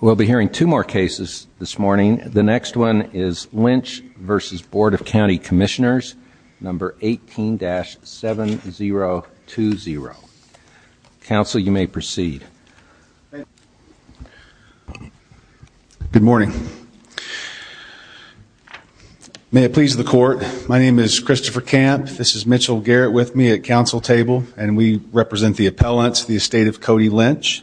We'll be hearing two more cases this morning. The next one is Lynch v. Board of County Commissioners number 18-7020. Counsel, you may proceed. Good morning. May it please the court, my name is Christopher Camp, this is Mitchell Garrett with me at counsel table and we represent the appellants, the estate of Cody Lynch,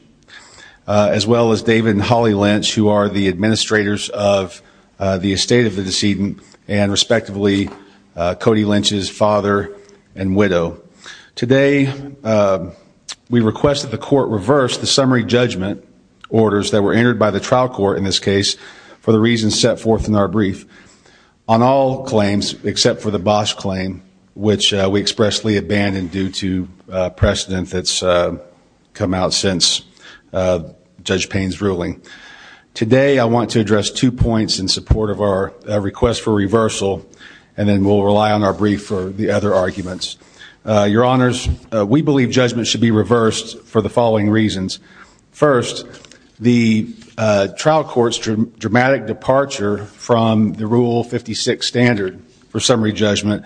as well as David and Holly Lynch who are the administrators of the estate of the decedent and respectively Cody Lynch's father and widow. Today we request that the court reverse the summary judgment orders that were entered by the trial court in this case for the reasons set forth in our brief on all claims except for the Bosch claim which we expressly abandoned due to precedent that's come out since Judge Payne's ruling. Today I want to address two points in support of our request for reversal and then we'll rely on our brief for the other arguments. Your honors, we believe judgment should be reversed for the following reasons. First, the trial court's dramatic departure from the rule 56 standard for summary judgment,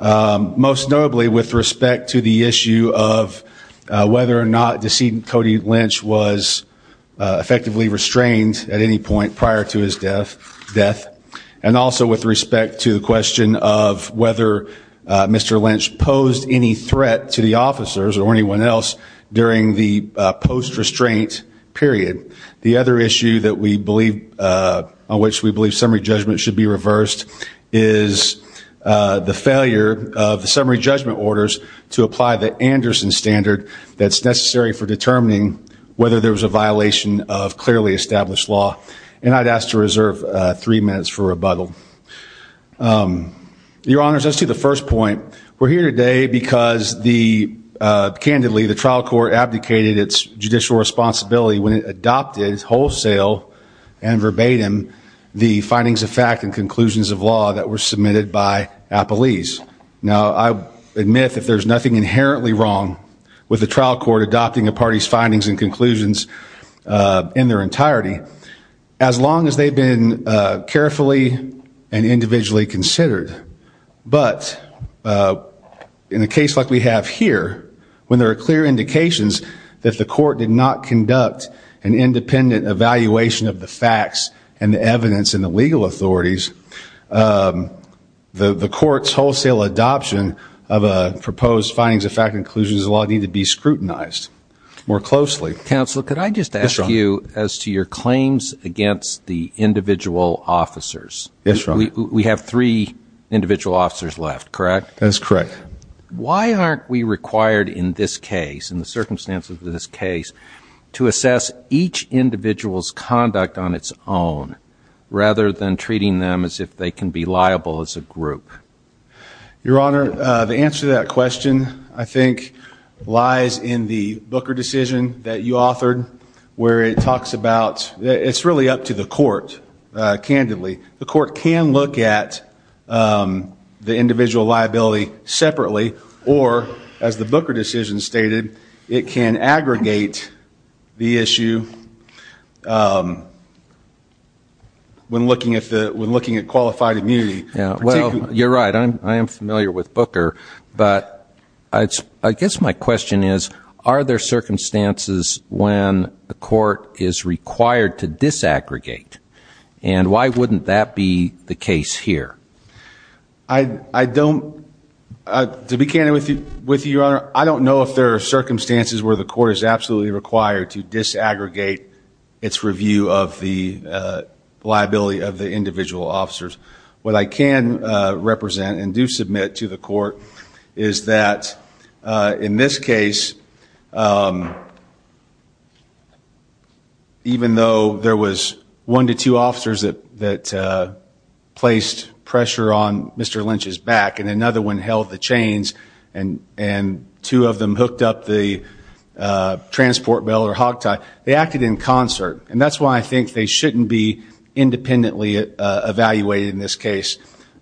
most notably with respect to the issue of whether or not decedent Cody Lynch was effectively restrained at any point prior to his death and also with respect to the question of whether Mr. Lynch posed any threat to the officers or anyone else during the post-restraint period. The other issue that we believe on which we believe summary judgment should be reversed is the failure of the summary judgment orders to apply the Anderson standard that's necessary for determining whether there was a violation of clearly established law and I'd ask to reserve three minutes for rebuttal. Your honors, as to the first point, we're here today because the candidly the trial court abdicated its judicial responsibility when it adopted wholesale and verbatim the findings of fact and conclusions of law that were submitted by appellees. Now I admit that there's nothing inherently wrong with the trial court adopting a party's findings and conclusions in their entirety as long as they've been carefully and individually considered. But in a case like we have here, when there are clear indications that the court did not conduct an independent evaluation of the facts and evidence in the legal authorities, the court's wholesale adoption of a proposed findings of fact and conclusions of law need to be scrutinized more closely. Counselor, could I just ask you as to your claims against the individual officers? We have three individual officers left, correct? That's correct. Why aren't we required in this case, in the circumstances of this case, to assess each individual's conduct on its own rather than treating them as if they can be liable as a group? Your honor, the answer to that question, I think, lies in the Booker decision that you authored where it talks about, it's really up to the individual liability separately or, as the Booker decision stated, it can aggregate the issue when looking at qualified immunity. Well, you're right. I am familiar with Booker, but I guess my question is, are there circumstances when a court is required to disaggregate? Why wouldn't that be the case here? To be candid with you, your honor, I don't know if there are circumstances where the court is absolutely required to disaggregate its review of the liability of the individual officers. What I can represent and do submit to the court is that, in this case, even though there was one decision that the individual officers that placed pressure on Mr. Lynch's back and another one held the chains and two of them hooked up the transport belt or hog tie, they acted in concert. And that's why I think they shouldn't be independently evaluated in this case.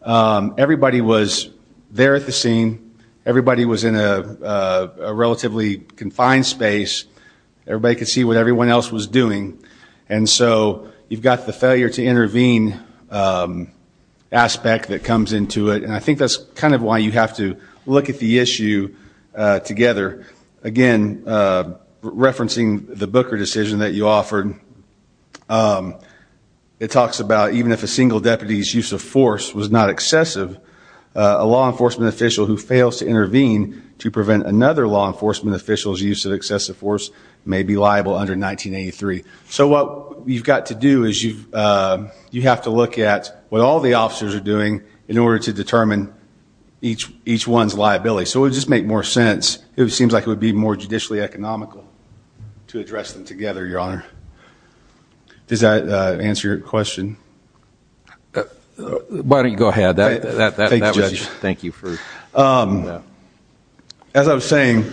Everybody was there at the scene. Everybody was in a relatively confined space. Everybody could see what everyone else was doing. And so you've got the failure to intervene aspect that comes into it. And I think that's kind of why you have to look at the issue together. Again, referencing the Booker decision that you offered, it talks about even if a single deputy's use of force was not excessive, a law enforcement official who fails to intervene to prevent another law enforcement official's use of excessive force may be liable under 1983. So what you've got to do is you have to look at what all the officers are doing in order to determine each one's liability. So it would just make more sense. It seems like it would be more judicially economical to address them together, Your Honor. Does that answer your question? Why don't you go ahead. Thank you, Judge. As I was saying,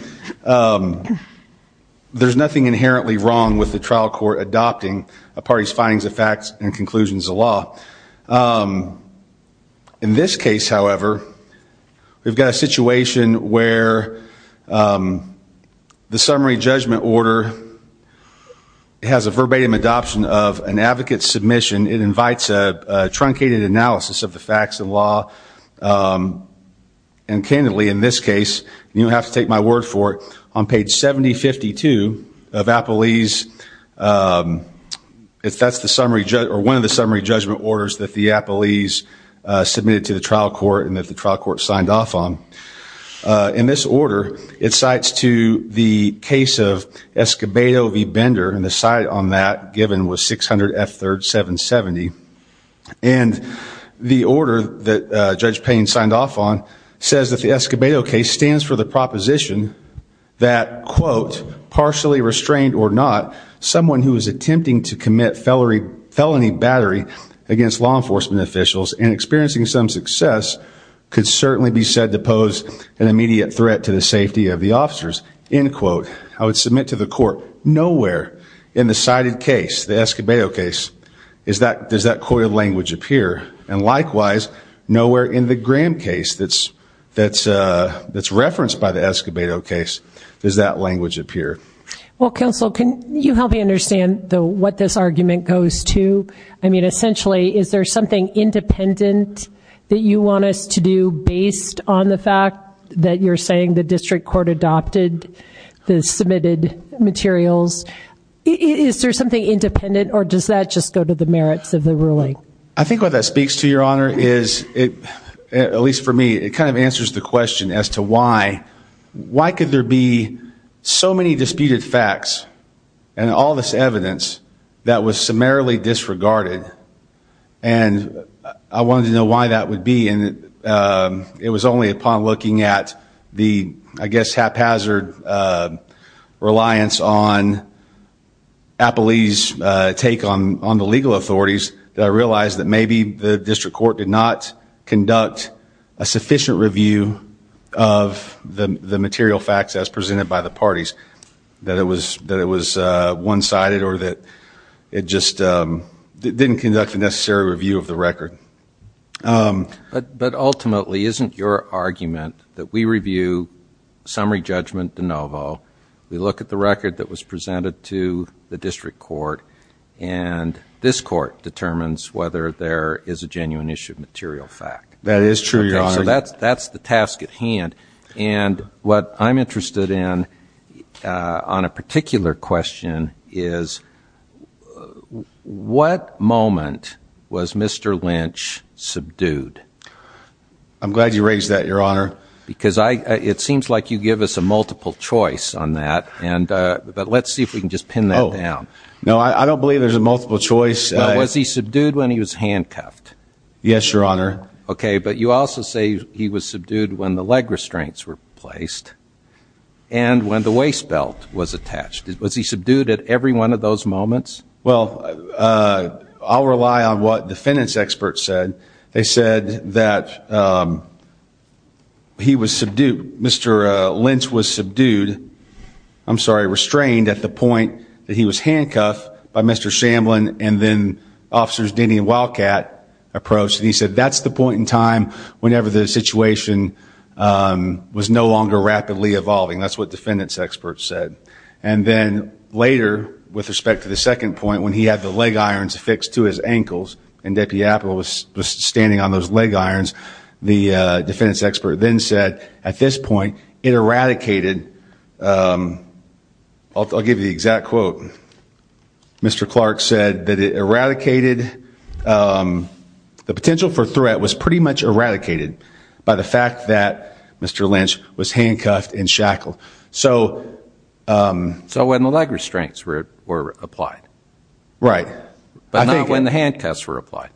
there's nothing inherently wrong with the trial court adopting a party's findings of facts and conclusions of law. In this case, however, we've got a situation where the summary judgment order has a verbatim adoption of an advocate's submission. It invites a truncated analysis of the facts and law. And candidly, in this case, you don't have to take my word for it, on page 7052 of Appellee's, that's one of the summary judgment orders that the Appellee's submitted to the trial court and that the trial court signed off on. In this order, it cites to the case of Escobedo v. Bender, and the cite on that given was 600 F3rd 770. And the order that Judge Payne signed off on says that the Escobedo case stands for the proposition that, quote, partially restrained or not, someone who is attempting to commit felony battery against law enforcement officials and experiencing some success could certainly be said to pose an immediate threat to the safety of the officers, end quote. I would submit to the court, nowhere in the cited case, the Escobedo case, does that coiled language appear. And likewise, nowhere in the Graham case that's referenced by the Escobedo case does that language appear. Well, counsel, can you help me understand what this argument goes to? I mean, essentially, is there something independent that you want us to do based on the fact that you're saying the district court adopted the submitted materials? Is there something independent or does that just go to the merits of the ruling? I think what that speaks to, Your Honor, is it, at least for me, it kind of answers the question as to why. Why could there be so many disputed facts and all this evidence that was summarily disregarded? And I wanted to know why that would be. And it was only upon looking at the, I guess, haphazard reliance on Appley's take on the legal authorities that I realized that maybe the district court did not conduct a sufficient review of the material facts as presented by the parties, that it was one-sided or that it just didn't conduct the necessary review of the record. But ultimately, isn't your argument that we review summary judgment de novo, we look at the record that was presented to the district court, and this court determines whether there is a genuine issue of material fact? That is true, Your Honor. So that's the task at hand. And what I'm interested in on a particular question is, what moment was Mr. Lynch subdued? I'm glad you raised that, Your Honor. Because it seems like you give us a multiple choice on that, but let's see if we can just pin that down. No, I don't believe there's a multiple choice. Was he subdued when he was handcuffed? Yes, Your Honor. Okay, but you also say he was subdued when the leg restraints were placed and when the waist belt was attached. Was he subdued at every one of those moments? Well, I'll rely on what defendants' experts said. They said that he was subdued, Mr. Lynch was subdued, I'm sorry, restrained at the point that he was handcuffed by Mr. Shamblin and then Officers Denny and Wildcat approached, and he said that's the point in time whenever the situation was no longer rapidly evolving. That's what defendants' experts said. And then later, with respect to the second point, when he had the leg irons affixed to his ankles and Deputy Apple was standing on those leg irons, the defendants' expert then said at this point it eradicated, I'll give you the exact quote, Mr. Clark said that it eradicated, the potential for threat was pretty much eradicated by the fact that Mr. Lynch was handcuffed and shackled. So when the leg restraints were applied. Right. But not when the handcuffs were applied.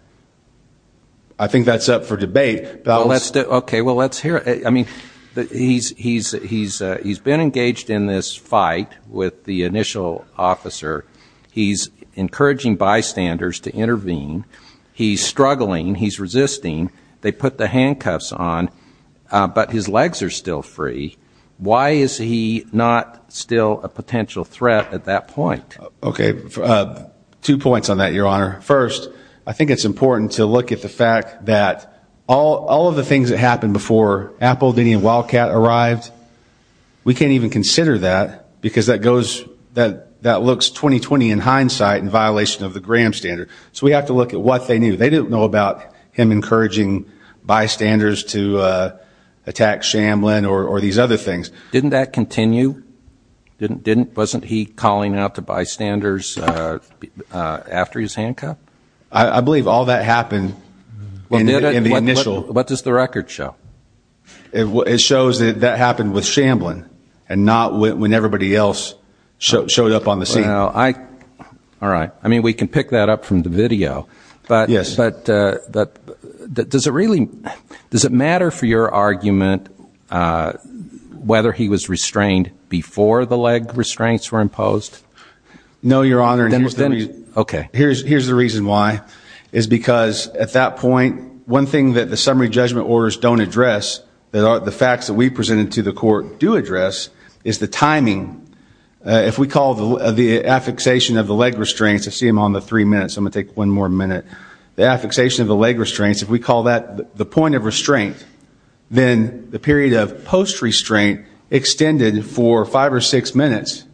I think that's up for debate. Okay, well, let's hear it. He's been engaged in this fight with the initial officer. He's encouraging bystanders to intervene. He's struggling. He's resisting. They put the handcuffs on, but his legs are still free. Why is he not still a potential threat at that point? Okay, two points on that, Your Honor. First, I think it's important to look at the fact that all of the things that happened before Apple, Denny and Wildcat arrived, we can't even consider that because that goes, that looks 20-20 in hindsight in violation of the Graham standard. So we have to look at what they knew. They didn't know about him encouraging bystanders to attack Shamblin or these other things. Didn't that continue? Wasn't he calling out to bystanders after his handcuff? I believe all that happened in the initial. What does the record show? It shows that that happened with Shamblin and not when everybody else showed up on the scene. All right. I mean, we can pick that up from the video, but does it matter for your argument whether he was restrained before the leg restraints were imposed? No, Your Honor. Okay. Here's the reason why, is because at that point, one thing that the summary judgment orders don't address, the facts that we presented to the court do address, is the timing. If we call the affixation of the leg restraints, I see him on the three minutes, so I'm going to take one more minute. The affixation of the leg restraints, if we call that the point of restraint, then the period of post-restraint extended for five or six minutes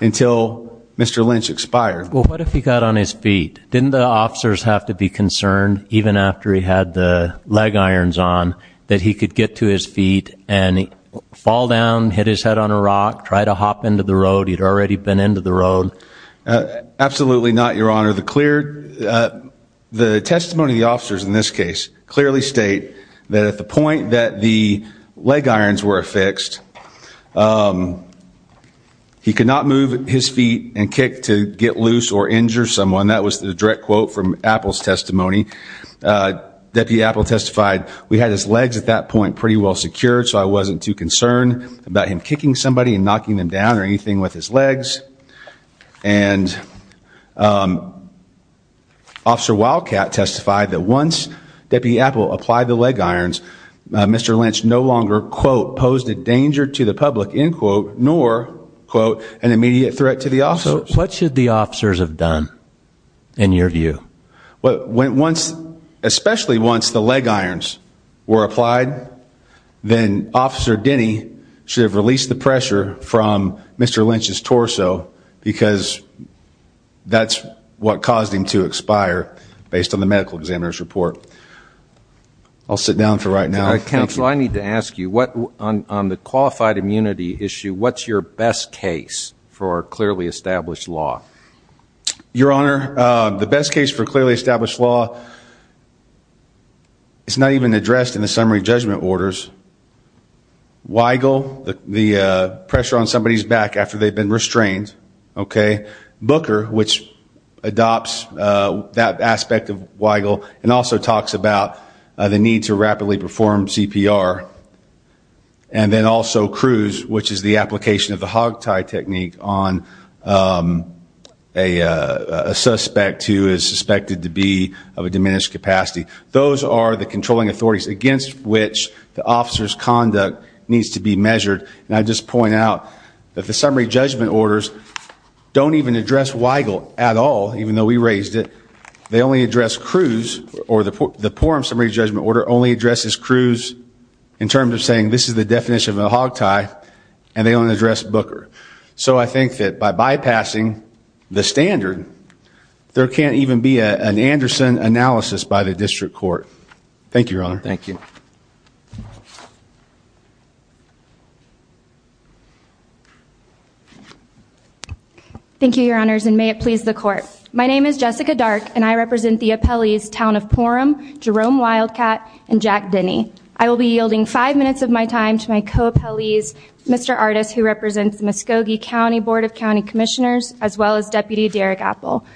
until Mr. Lynch expired. Well, what if he got on his feet? Didn't the officers have to be concerned, even after he had the leg irons on, that he could get to his feet and fall down, hit his head on a rock, try to hop into the road? He'd already been into the road. Absolutely not, Your Honor. The testimony of the officers in this case clearly state that at the point that the leg irons were affixed, he could not move his feet and he could not move his head. This is a Deputy Apple's testimony. Deputy Apple testified, we had his legs at that point pretty well secured, so I wasn't too concerned about him kicking somebody and knocking them down or anything with his legs. And Officer Wildcat testified that once Deputy Apple applied the leg irons, Mr. Lynch no longer, quote, posed a danger to the public, end quote, nor, quote, an immediate threat to the officers. So what should the officers have done, in your view? Especially once the leg irons were applied, then Officer Denny should have released the pressure from Mr. Lynch's torso, because that's what caused him to expire, based on the medical examiner's report. I'll sit down for right now. Counsel, I need to ask you, on the qualified immunity issue, what's your best case for clearly established law? Your Honor, the best case for clearly established law is not even addressed in the summary judgment orders. Weigel, the pressure on somebody's back after they've been restrained, okay? Booker, which adopts that aspect of Weigel, and also talks about the need to rapidly perform CPR, and then also Cruz, which is the application of the hogtie technique on a suspect who is suspected to be of a diminished capacity. Those are the controlling authorities against which the officer's conduct needs to be measured. And I just point out that the summary judgment orders don't even address Weigel at all, even though we raised it. They only address Cruz, or the quorum summary judgment order only addresses Cruz in terms of saying, this is the definition of a hogtie, and they only address Booker. So I think that by bypassing the standard, there can't even be an Anderson analysis by the district court. Thank you, Your Honor. Thank you. Thank you, Your Honors, and may it please the Court. My name is Jessica Dark, and I serve on the Board of County Commissioners in the town of Porham, Jerome Wildcat, and Jack Denny. I will be yielding five minutes of my time to my co-appellees, Mr. Artis, who represents Muskogee County Board of County Commissioners, as well as Deputy Derek Appel.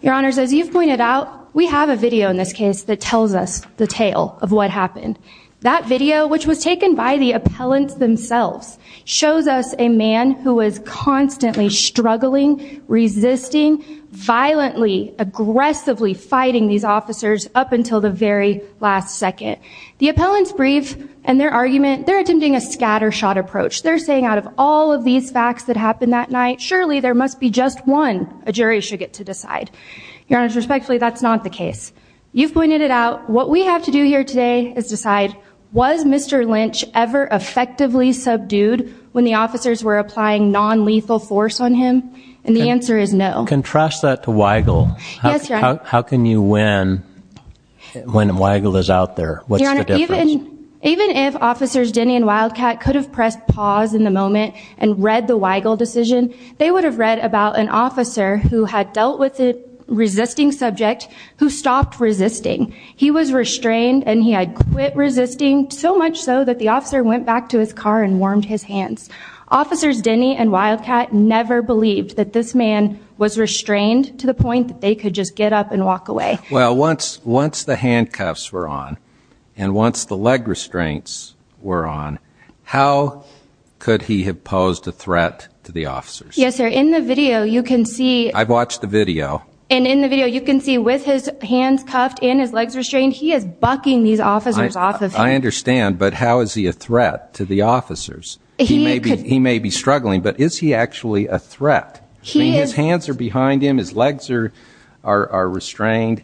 Your Honors, as you've pointed out, we have a video in this case that tells us the tale of what happened. That video, which was taken by the appellants themselves, shows us a man who was constantly struggling, resisting, violently, aggressively fighting these officers up until the very last second. The appellants' brief and their argument, they're attempting a scattershot approach. They're saying, out of all of these facts that happened that night, surely there must be just one a jury should get to decide. Your Honors, respectfully, that's not the case. You've pointed it out. What we have to do here today is decide, was Mr. Lynch ever effectively subdued when the officers were applying nonlethal force on him? And the answer is no. Contrast that to Weigel. Yes, Your Honor. How can you win when Weigel is out there? What's the difference? Your Honor, even if Officers Denny and Wildcat could have pressed pause in the moment and read the Weigel decision, they would have read about an officer who had dealt with a resisting subject who stopped resisting. He was restrained and he had quit resisting, so much so that the officer went back to his car and warmed his hands. Officers Denny and Wildcat never believed that this man was restrained to the point that they could just get up and walk away. Well, once the handcuffs were on, and once the leg restraints were on, how could he have posed a threat to the officers? Yes, sir. In the video, you can see... I've watched the video. And in the video, he is restrained. He is bucking these officers off of him. I understand, but how is he a threat to the officers? He may be struggling, but is he actually a threat? His hands are behind him. His legs are restrained.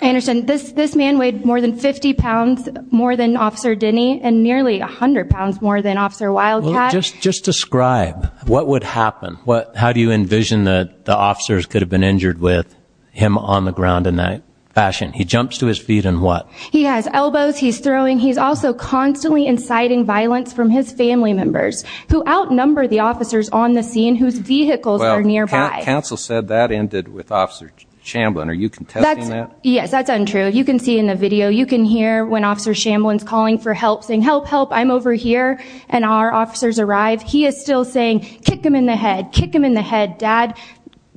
Anderson, this man weighed more than 50 pounds more than Officer Denny and nearly 100 pounds more than Officer Wildcat. Just describe what would happen. How do you envision that the officers could have been injured with him on the ground in that fashion? He jumps to his feet and what? He has elbows. He's throwing. He's also constantly inciting violence from his family members, who outnumber the officers on the scene whose vehicles are nearby. Well, counsel said that ended with Officer Shamblin. Are you contesting that? Yes, that's untrue. You can see in the video. You can hear when Officer Shamblin's calling for help, saying, help, help, I'm over here. And our officers arrive. He is still saying, kick him in the head, kick him in the head. Dad,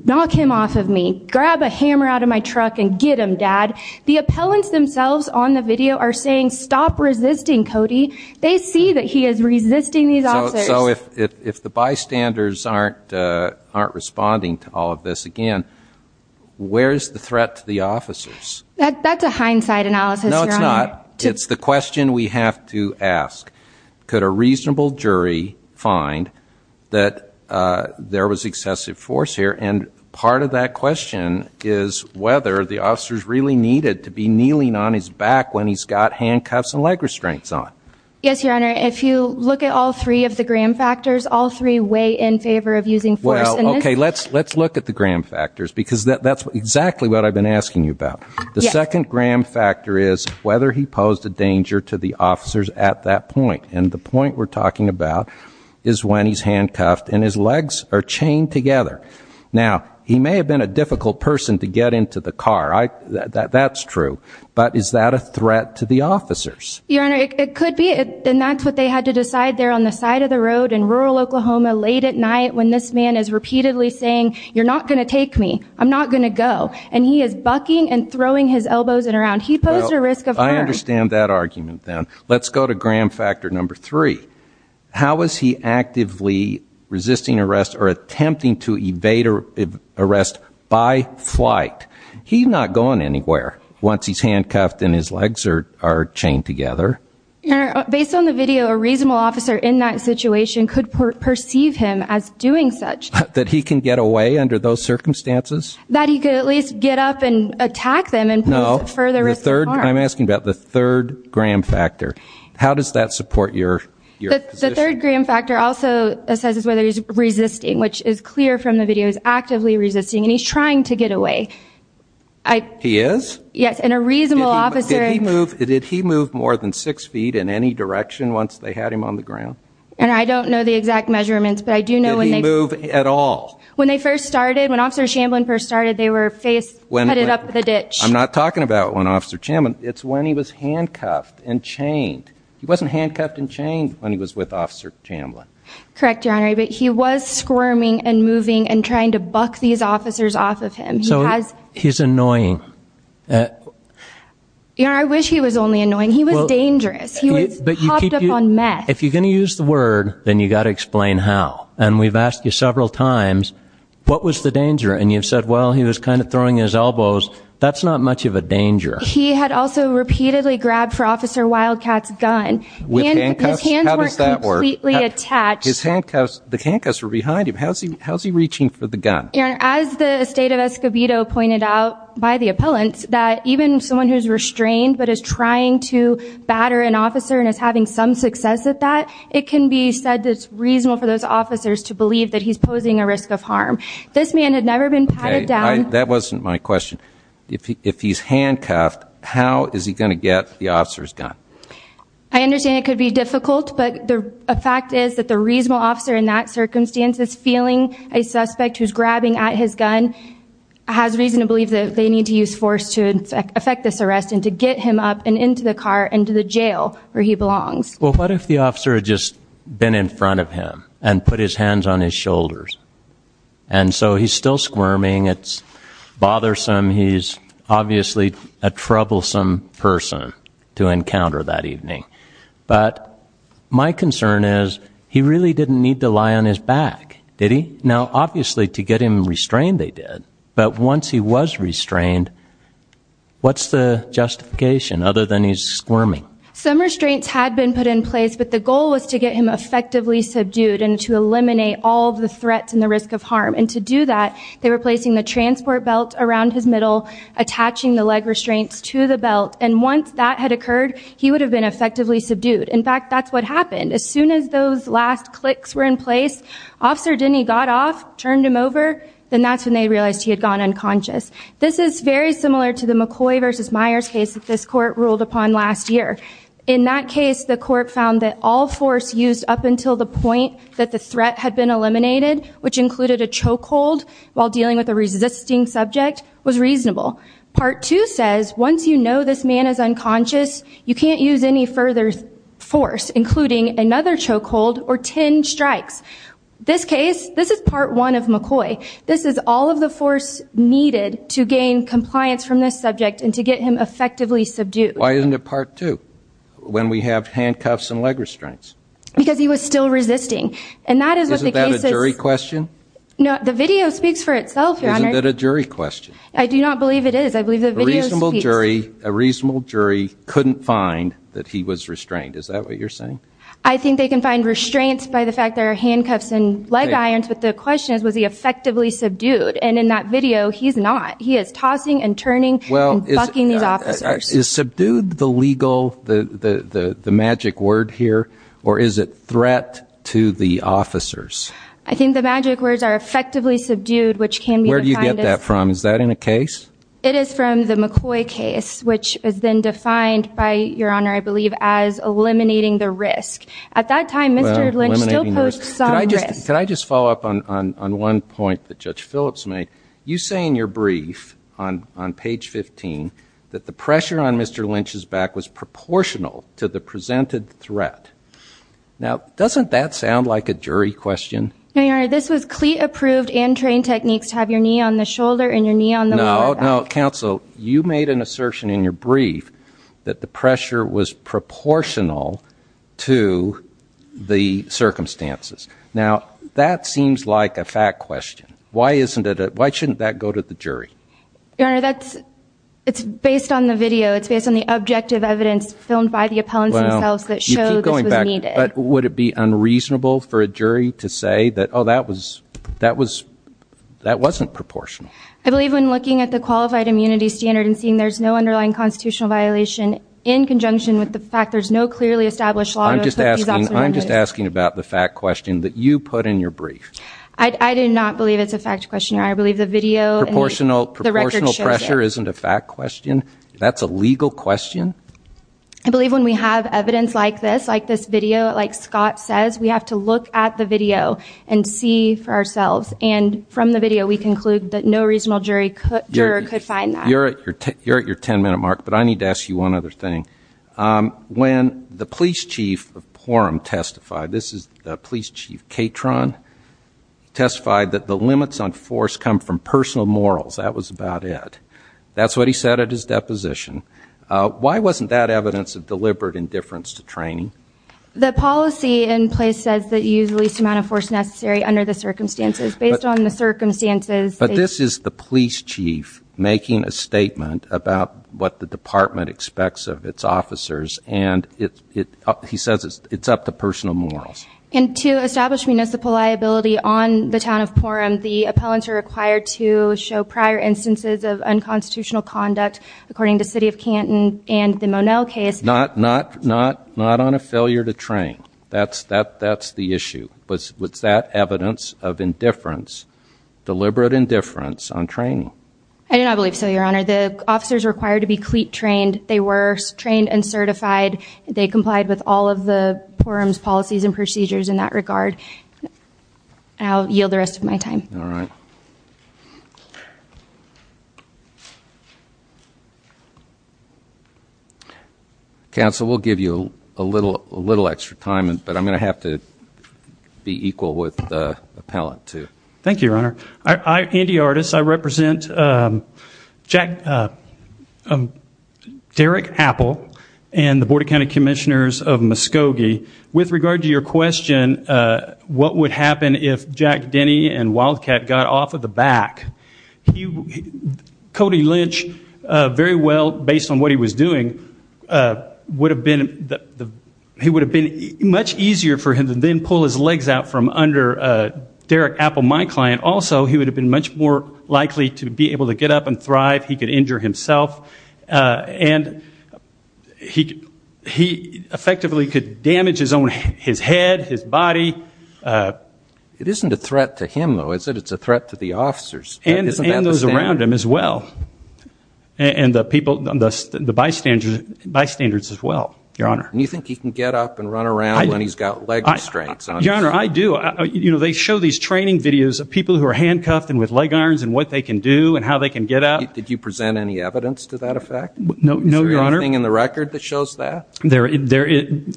knock him off of me. Grab a hammer out of my truck and get him, dad. The appellants themselves on the video are saying, stop resisting, Cody. They see that he is resisting these officers. So if the bystanders aren't responding to all of this again, where's the threat to the officers? That's a hindsight analysis, Your Honor. No, it's not. It's the question we have to ask. Could a reasonable jury find that there was excessive force here? And part of that question is whether the officers really needed to be kneeling on his back when he's got handcuffs and leg restraints on. Yes, Your Honor. If you look at all three of the gram factors, all three weigh in favor of using force. Well, okay, let's look at the gram factors, because that's exactly what I've been asking you about. The second gram factor is whether he posed a danger to the officers at that point. And the point we're legs are chained together. Now, he may have been a difficult person to get into the car. That's true. But is that a threat to the officers? Your Honor, it could be. And that's what they had to decide there on the side of the road in rural Oklahoma late at night when this man is repeatedly saying, you're not going to take me. I'm not going to go. And he is bucking and throwing his elbows around. He posed a risk of harm. I understand that argument then. Let's go to gram factor number three. How is he actively resisting arrest or attempting to evade arrest by flight? He's not going anywhere once he's handcuffed and his legs are chained together. Your Honor, based on the video, a reasonable officer in that situation could perceive him as doing such. That he can get away under those circumstances? That he could at least get up and attack them and pose further risk of harm. No. I'm asking about the third gram factor. How does that support your position? The third gram factor also assesses whether he's resisting, which is clear from the video. He's actively resisting and he's trying to get away. He is? Yes. And a reasonable officer. Did he move more than six feet in any direction once they had him on the ground? I don't know the exact measurements. Did he move at all? When they first started, when Officer Chamlin first started, they were handcuffed and chained. He wasn't handcuffed and chained when he was with Officer Chamlin. Correct, Your Honor. He was squirming and moving and trying to buck these officers off of him. So he's annoying. Your Honor, I wish he was only annoying. He was dangerous. He was hopped up on meth. If you're going to use the word, then you've got to explain how. And we've asked you several times, what was the danger? And you've said, well, he was repeatedly grabbed for Officer Wildcat's gun. With handcuffs? How does that work? And his hands weren't completely attached. His handcuffs, the handcuffs were behind him. How's he reaching for the gun? Your Honor, as the State of Escobedo pointed out by the appellants, that even someone who's restrained but is trying to batter an officer and is having some success at that, it can be said that it's reasonable for those officers to believe that he's posing a risk of harm. This man had never been patted down. That wasn't my question. If he's handcuffed, how is he going to get the officer's gun? I understand it could be difficult, but the fact is that the reasonable officer in that circumstance is feeling a suspect who's grabbing at his gun, has reason to believe that they need to use force to affect this arrest and to get him up and into the car and to the jail where he belongs. Well, what if the officer had just been in front of him and put his gun down? Well, he's still squirming. It's bothersome. He's obviously a troublesome person to encounter that evening. But my concern is he really didn't need to lie on his back, did he? Now, obviously, to get him restrained, they did. But once he was restrained, what's the justification other than he's squirming? Some restraints had been put in place, but the goal was to get him effectively subdued and to eliminate all of the threats and the transport belt around his middle, attaching the leg restraints to the belt. And once that had occurred, he would have been effectively subdued. In fact, that's what happened. As soon as those last clicks were in place, Officer Denny got off, turned him over. Then that's when they realized he had gone unconscious. This is very similar to the McCoy versus Myers case that this court ruled upon last year. In that case, the court found that all force used up until the point that the threat had been eliminated, which included a chokehold while dealing with a resisting subject, was reasonable. Part 2 says once you know this man is unconscious, you can't use any further force, including another chokehold or 10 strikes. This case, this is Part 1 of McCoy. This is all of the force needed to gain compliance from this subject and to get him effectively subdued. Why isn't it Part 2, when we have handcuffs and leg restraints? Because he was still resisting. And that is what the case is. Isn't that a jury question? No, the video speaks for itself, Your Honor. Isn't that a jury question? I do not believe it is. I believe the video speaks. A reasonable jury couldn't find that he was restrained. Is that what you're saying? I think they can find restraints by the fact there are handcuffs and leg irons, but the question is, was he effectively subdued? And in that video, he's not. He is tossing and turning and bucking these officers. Is subdued the legal, the magic word here, or is it threat to the officers? I think the magic words are effectively subdued, which can be defined as... Where do you get that from? Is that in a case? It is from the McCoy case, which is then defined by, Your Honor, I believe, as eliminating the risk. At that time, Mr. Lynch still posed some risk. Can I just follow up on one point that Judge Phillips made? You say in your brief, on page 15, that the pressure on Mr. Lynch's back was proportional to the presented threat. Now, doesn't that sound like a jury question? No, Your Honor. This was cleat-approved and trained techniques to have your knee on the shoulder and your knee on the lower back. No, no. Counsel, you made an assertion in your brief that the pressure was proportional to the circumstances. Now, that seems like a fact question. Why shouldn't that go to the jury? Your Honor, it's based on the video. It's based on the objective evidence filmed by the appellants themselves that showed this was needed. Well, you keep going back. But would it be unreasonable for a jury to say that, oh, that wasn't proportional? I believe when looking at the qualified immunity standard and seeing there's no underlying constitutional violation in conjunction with the fact there's no clearly established law to put these obstacles in place... I'm just asking about the fact question that you put in your brief. I do not believe it's a fact question, Your Honor. I believe the video and the record shows that. Proportional pressure isn't a fact question? That's a legal question? I believe when we have evidence like this, like this video, like Scott says, we have to look at the video and see for ourselves. And from the video, we conclude that no reasonable juror could find that. You're at your 10-minute mark, but I need to ask you one other thing. When the police chief of Porham testified, this is the police chief Catron, testified that the limits on force come from personal morals. That was about it. That's what he said at his deposition. Why wasn't that evidence of deliberate indifference to training? The policy in place says that you use the least amount of force necessary under the circumstances. Based on the circumstances... But this is the police chief making a statement about what the department expects of its officers, and he says it's up to personal morals. And to establish municipal liability on the town of Porham, the appellants are required to show prior instances of unconstitutional conduct, according to City of Canton and the Monell case. Not on a failure to train. That's the issue. Was that evidence of indifference, deliberate indifference, on training? I do not believe so, Your Honor. The officers are required to be CLEAT trained. They were trained and certified. They complied with all of the Porham's policies and procedures in that regard. I'll yield the rest of my time. All right. Thank you. Counsel, we'll give you a little extra time, but I'm going to have to be equal with the appellant, too. Thank you, Your Honor. I, Andy Artis, I represent Derek Apple and the Board of County Commissioners of Muskogee. With regard to your question, what would happen if Jack Denney and Wildcat got off of the back? Cody Lynch, very well based on what he was doing, would have been much easier for him to then pull his legs out from under Derek Apple, my client. Also, he would have been much more likely to be able to get up and thrive. He could injure himself. And he effectively could damage his head, his body. It isn't a threat to him, though, is it? It's a threat to the officers. And those around him as well. And the bystanders as well, Your Honor. And you think he can get up and run around when he's got leg restraints on? Your Honor, I do. They show these training videos of people who are handcuffed and with leg irons and what they can do and how they can get up. Did you present any evidence to that effect? No, Your Honor. Is there anything in the record that shows that?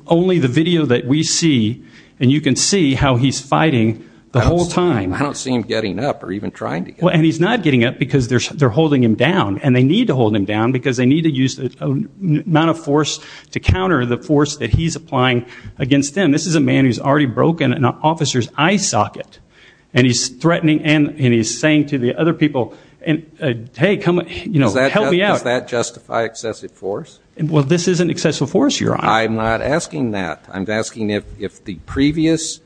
Only the video that we see. And you can see how he's fighting the whole time. I don't see him getting up or even trying to get up. And he's not getting up because they're holding him down. And they need to hold him down because they need to use the amount of force to counter the force that he's applying against them. This is a man who's already broken an officer's eye socket. And he's threatening and he's saying to the other people, hey, help me out. Does that justify excessive force? Well, this isn't excessive force, Your Honor. I'm not asking that. I'm asking if the previous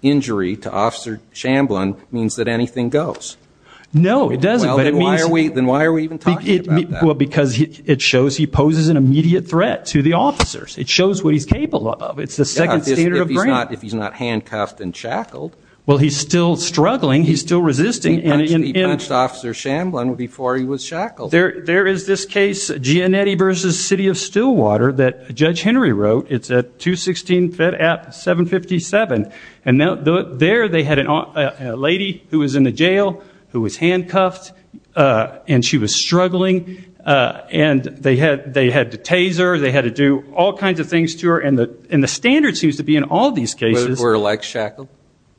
injury to Officer Shamblin means that anything goes. No, it doesn't. Then why are we even talking about that? Well, because it shows he poses an immediate threat to the officers. It shows what he's capable of. It's the second standard of grant. If he's not handcuffed and shackled. Well, he's still struggling. He's still resisting. He punched Officer Shamblin before he was shackled. There is this case, Gianetti v. City of Stillwater, that Judge Henry wrote. It's at 216 Fed App 757. And there they had a lady who was in the jail who was handcuffed and she was struggling. And they had to tase her. They had to do all kinds of things to her. And the standard seems to be in all these cases. Were her legs shackled?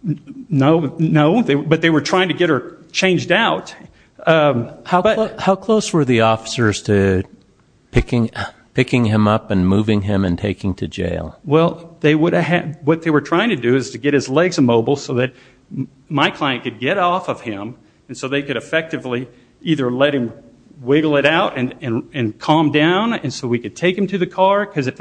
No, but they were trying to get her changed out. How close were the officers to picking him up and moving him and taking him to jail? Well, what they were trying to do is to get his legs immobile so that my client could get off of him and so they could effectively either let him wiggle it out and calm down and so we could take him to the car. Because if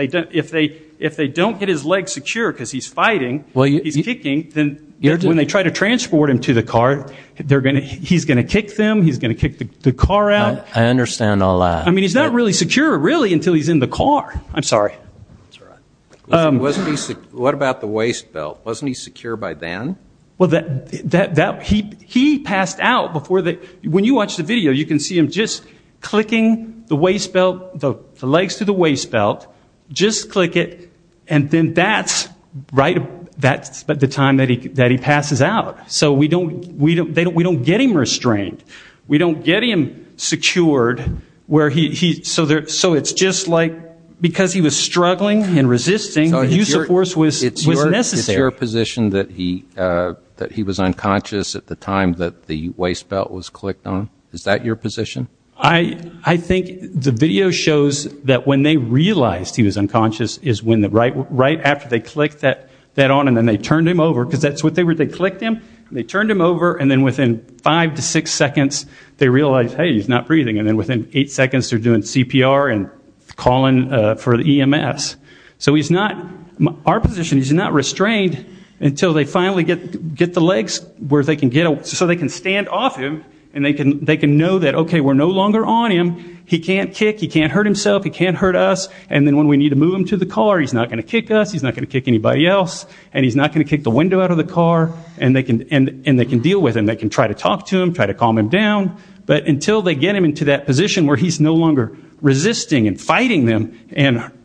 they don't get his legs secure because he's fighting, he's kicking, then when they try to transport him to the car, he's going to kick them, he's going to kick the car out. I understand all that. I mean, he's not really secure, really, until he's in the car. I'm sorry. What about the waist belt? Wasn't he secure by then? He passed out before that. When you watch the video, you can see him just clicking the legs to the waist belt, just click it, and then that's the time that he passes out. So we don't get him restrained. We don't get him secured. So it's just like because he was struggling and resisting, the use of force was necessary. Is it your position that he was unconscious at the time that the waist belt was clicked on? Is that your position? I think the video shows that when they realized he was unconscious is right after they clicked that on and then they turned him over because that's what they were. They clicked him, they turned him over, and then within five to six seconds they realized, hey, he's not breathing, and then within eight seconds they're doing CPR and calling for EMS. So our position is he's not restrained until they finally get the legs so they can stand off him and they can know that, okay, we're no longer on him. He can't kick. He can't hurt himself. He can't hurt us. And then when we need to move him to the car, he's not going to kick us. He's not going to kick anybody else, and he's not going to kick the window out of the car, and they can deal with him. They can try to talk to him, try to calm him down, but until they get him into that position where he's no longer resisting and fighting them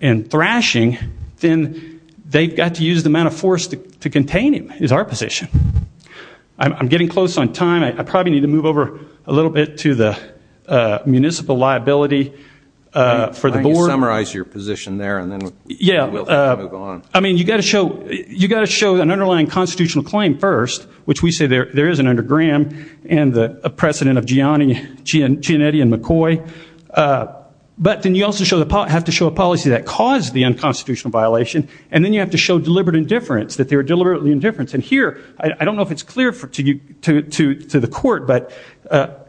and thrashing, then they've got to use the amount of force to contain him is our position. I'm getting close on time. I probably need to move over a little bit to the municipal liability for the board. Can you summarize your position there and then we'll move on? Yeah. I mean, you've got to show an underlying constitutional claim first, which we say there is an under Graham and a precedent of Gianetti and McCoy. But then you also have to show a policy that caused the unconstitutional violation, and then you have to show deliberate indifference, that they were deliberately indifferent. And here, I don't know if it's clear to the court, but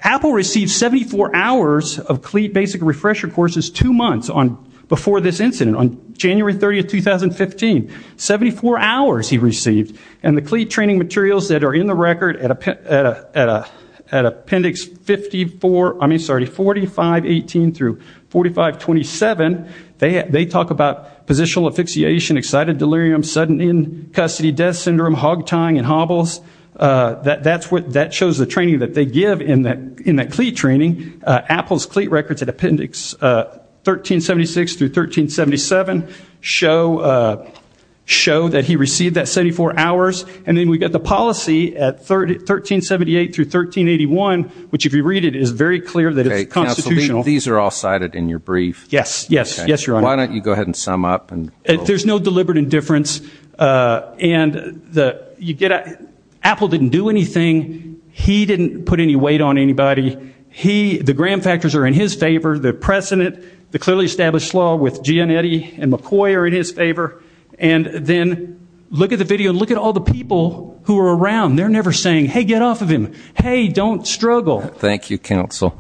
Apple received 74 hours of CLEAD basic refresher courses two months before this incident, on January 30, 2015. Seventy-four hours he received. And the CLEAD training materials that are in the record at appendix 4518 through 4527, they talk about positional asphyxiation, excited delirium, sudden in-custody death syndrome, hog tying and hobbles. That shows the training that they give in that CLEAD training. Apple's CLEAD records at appendix 1376 through 1377 show that he received that 74 hours. And then we've got the policy at 1378 through 1381, which, if you read it, is very clear that it's constitutional. These are all cited in your brief. Yes, yes, yes, Your Honor. Why don't you go ahead and sum up? There's no deliberate indifference. And Apple didn't do anything. He didn't put any weight on anybody. The gram factors are in his favor. The precedent, the clearly established law with Gianetti and McCoy are in his favor. And then look at the video and look at all the people who are around. They're never saying, hey, get off of him. Hey, don't struggle. Thank you, counsel.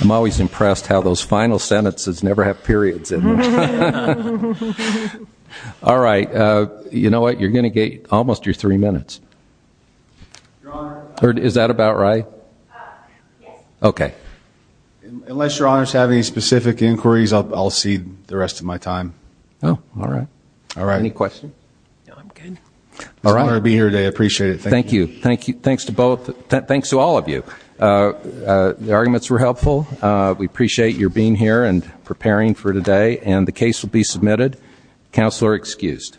I'm always impressed how those final sentences never have periods in them. All right. You know what? You're going to get almost your three minutes. Your Honor. Is that about right? Yes. Okay. Unless Your Honor has any specific inquiries, I'll cede the rest of my time. Oh, all right. All right. Any questions? No, I'm good. It's an honor to be here today. I appreciate it. Thank you. Thank you. Thanks to both. Thanks to all of you. The arguments were helpful. We appreciate your being here and preparing for today. And the case will be submitted. Counsel are excused.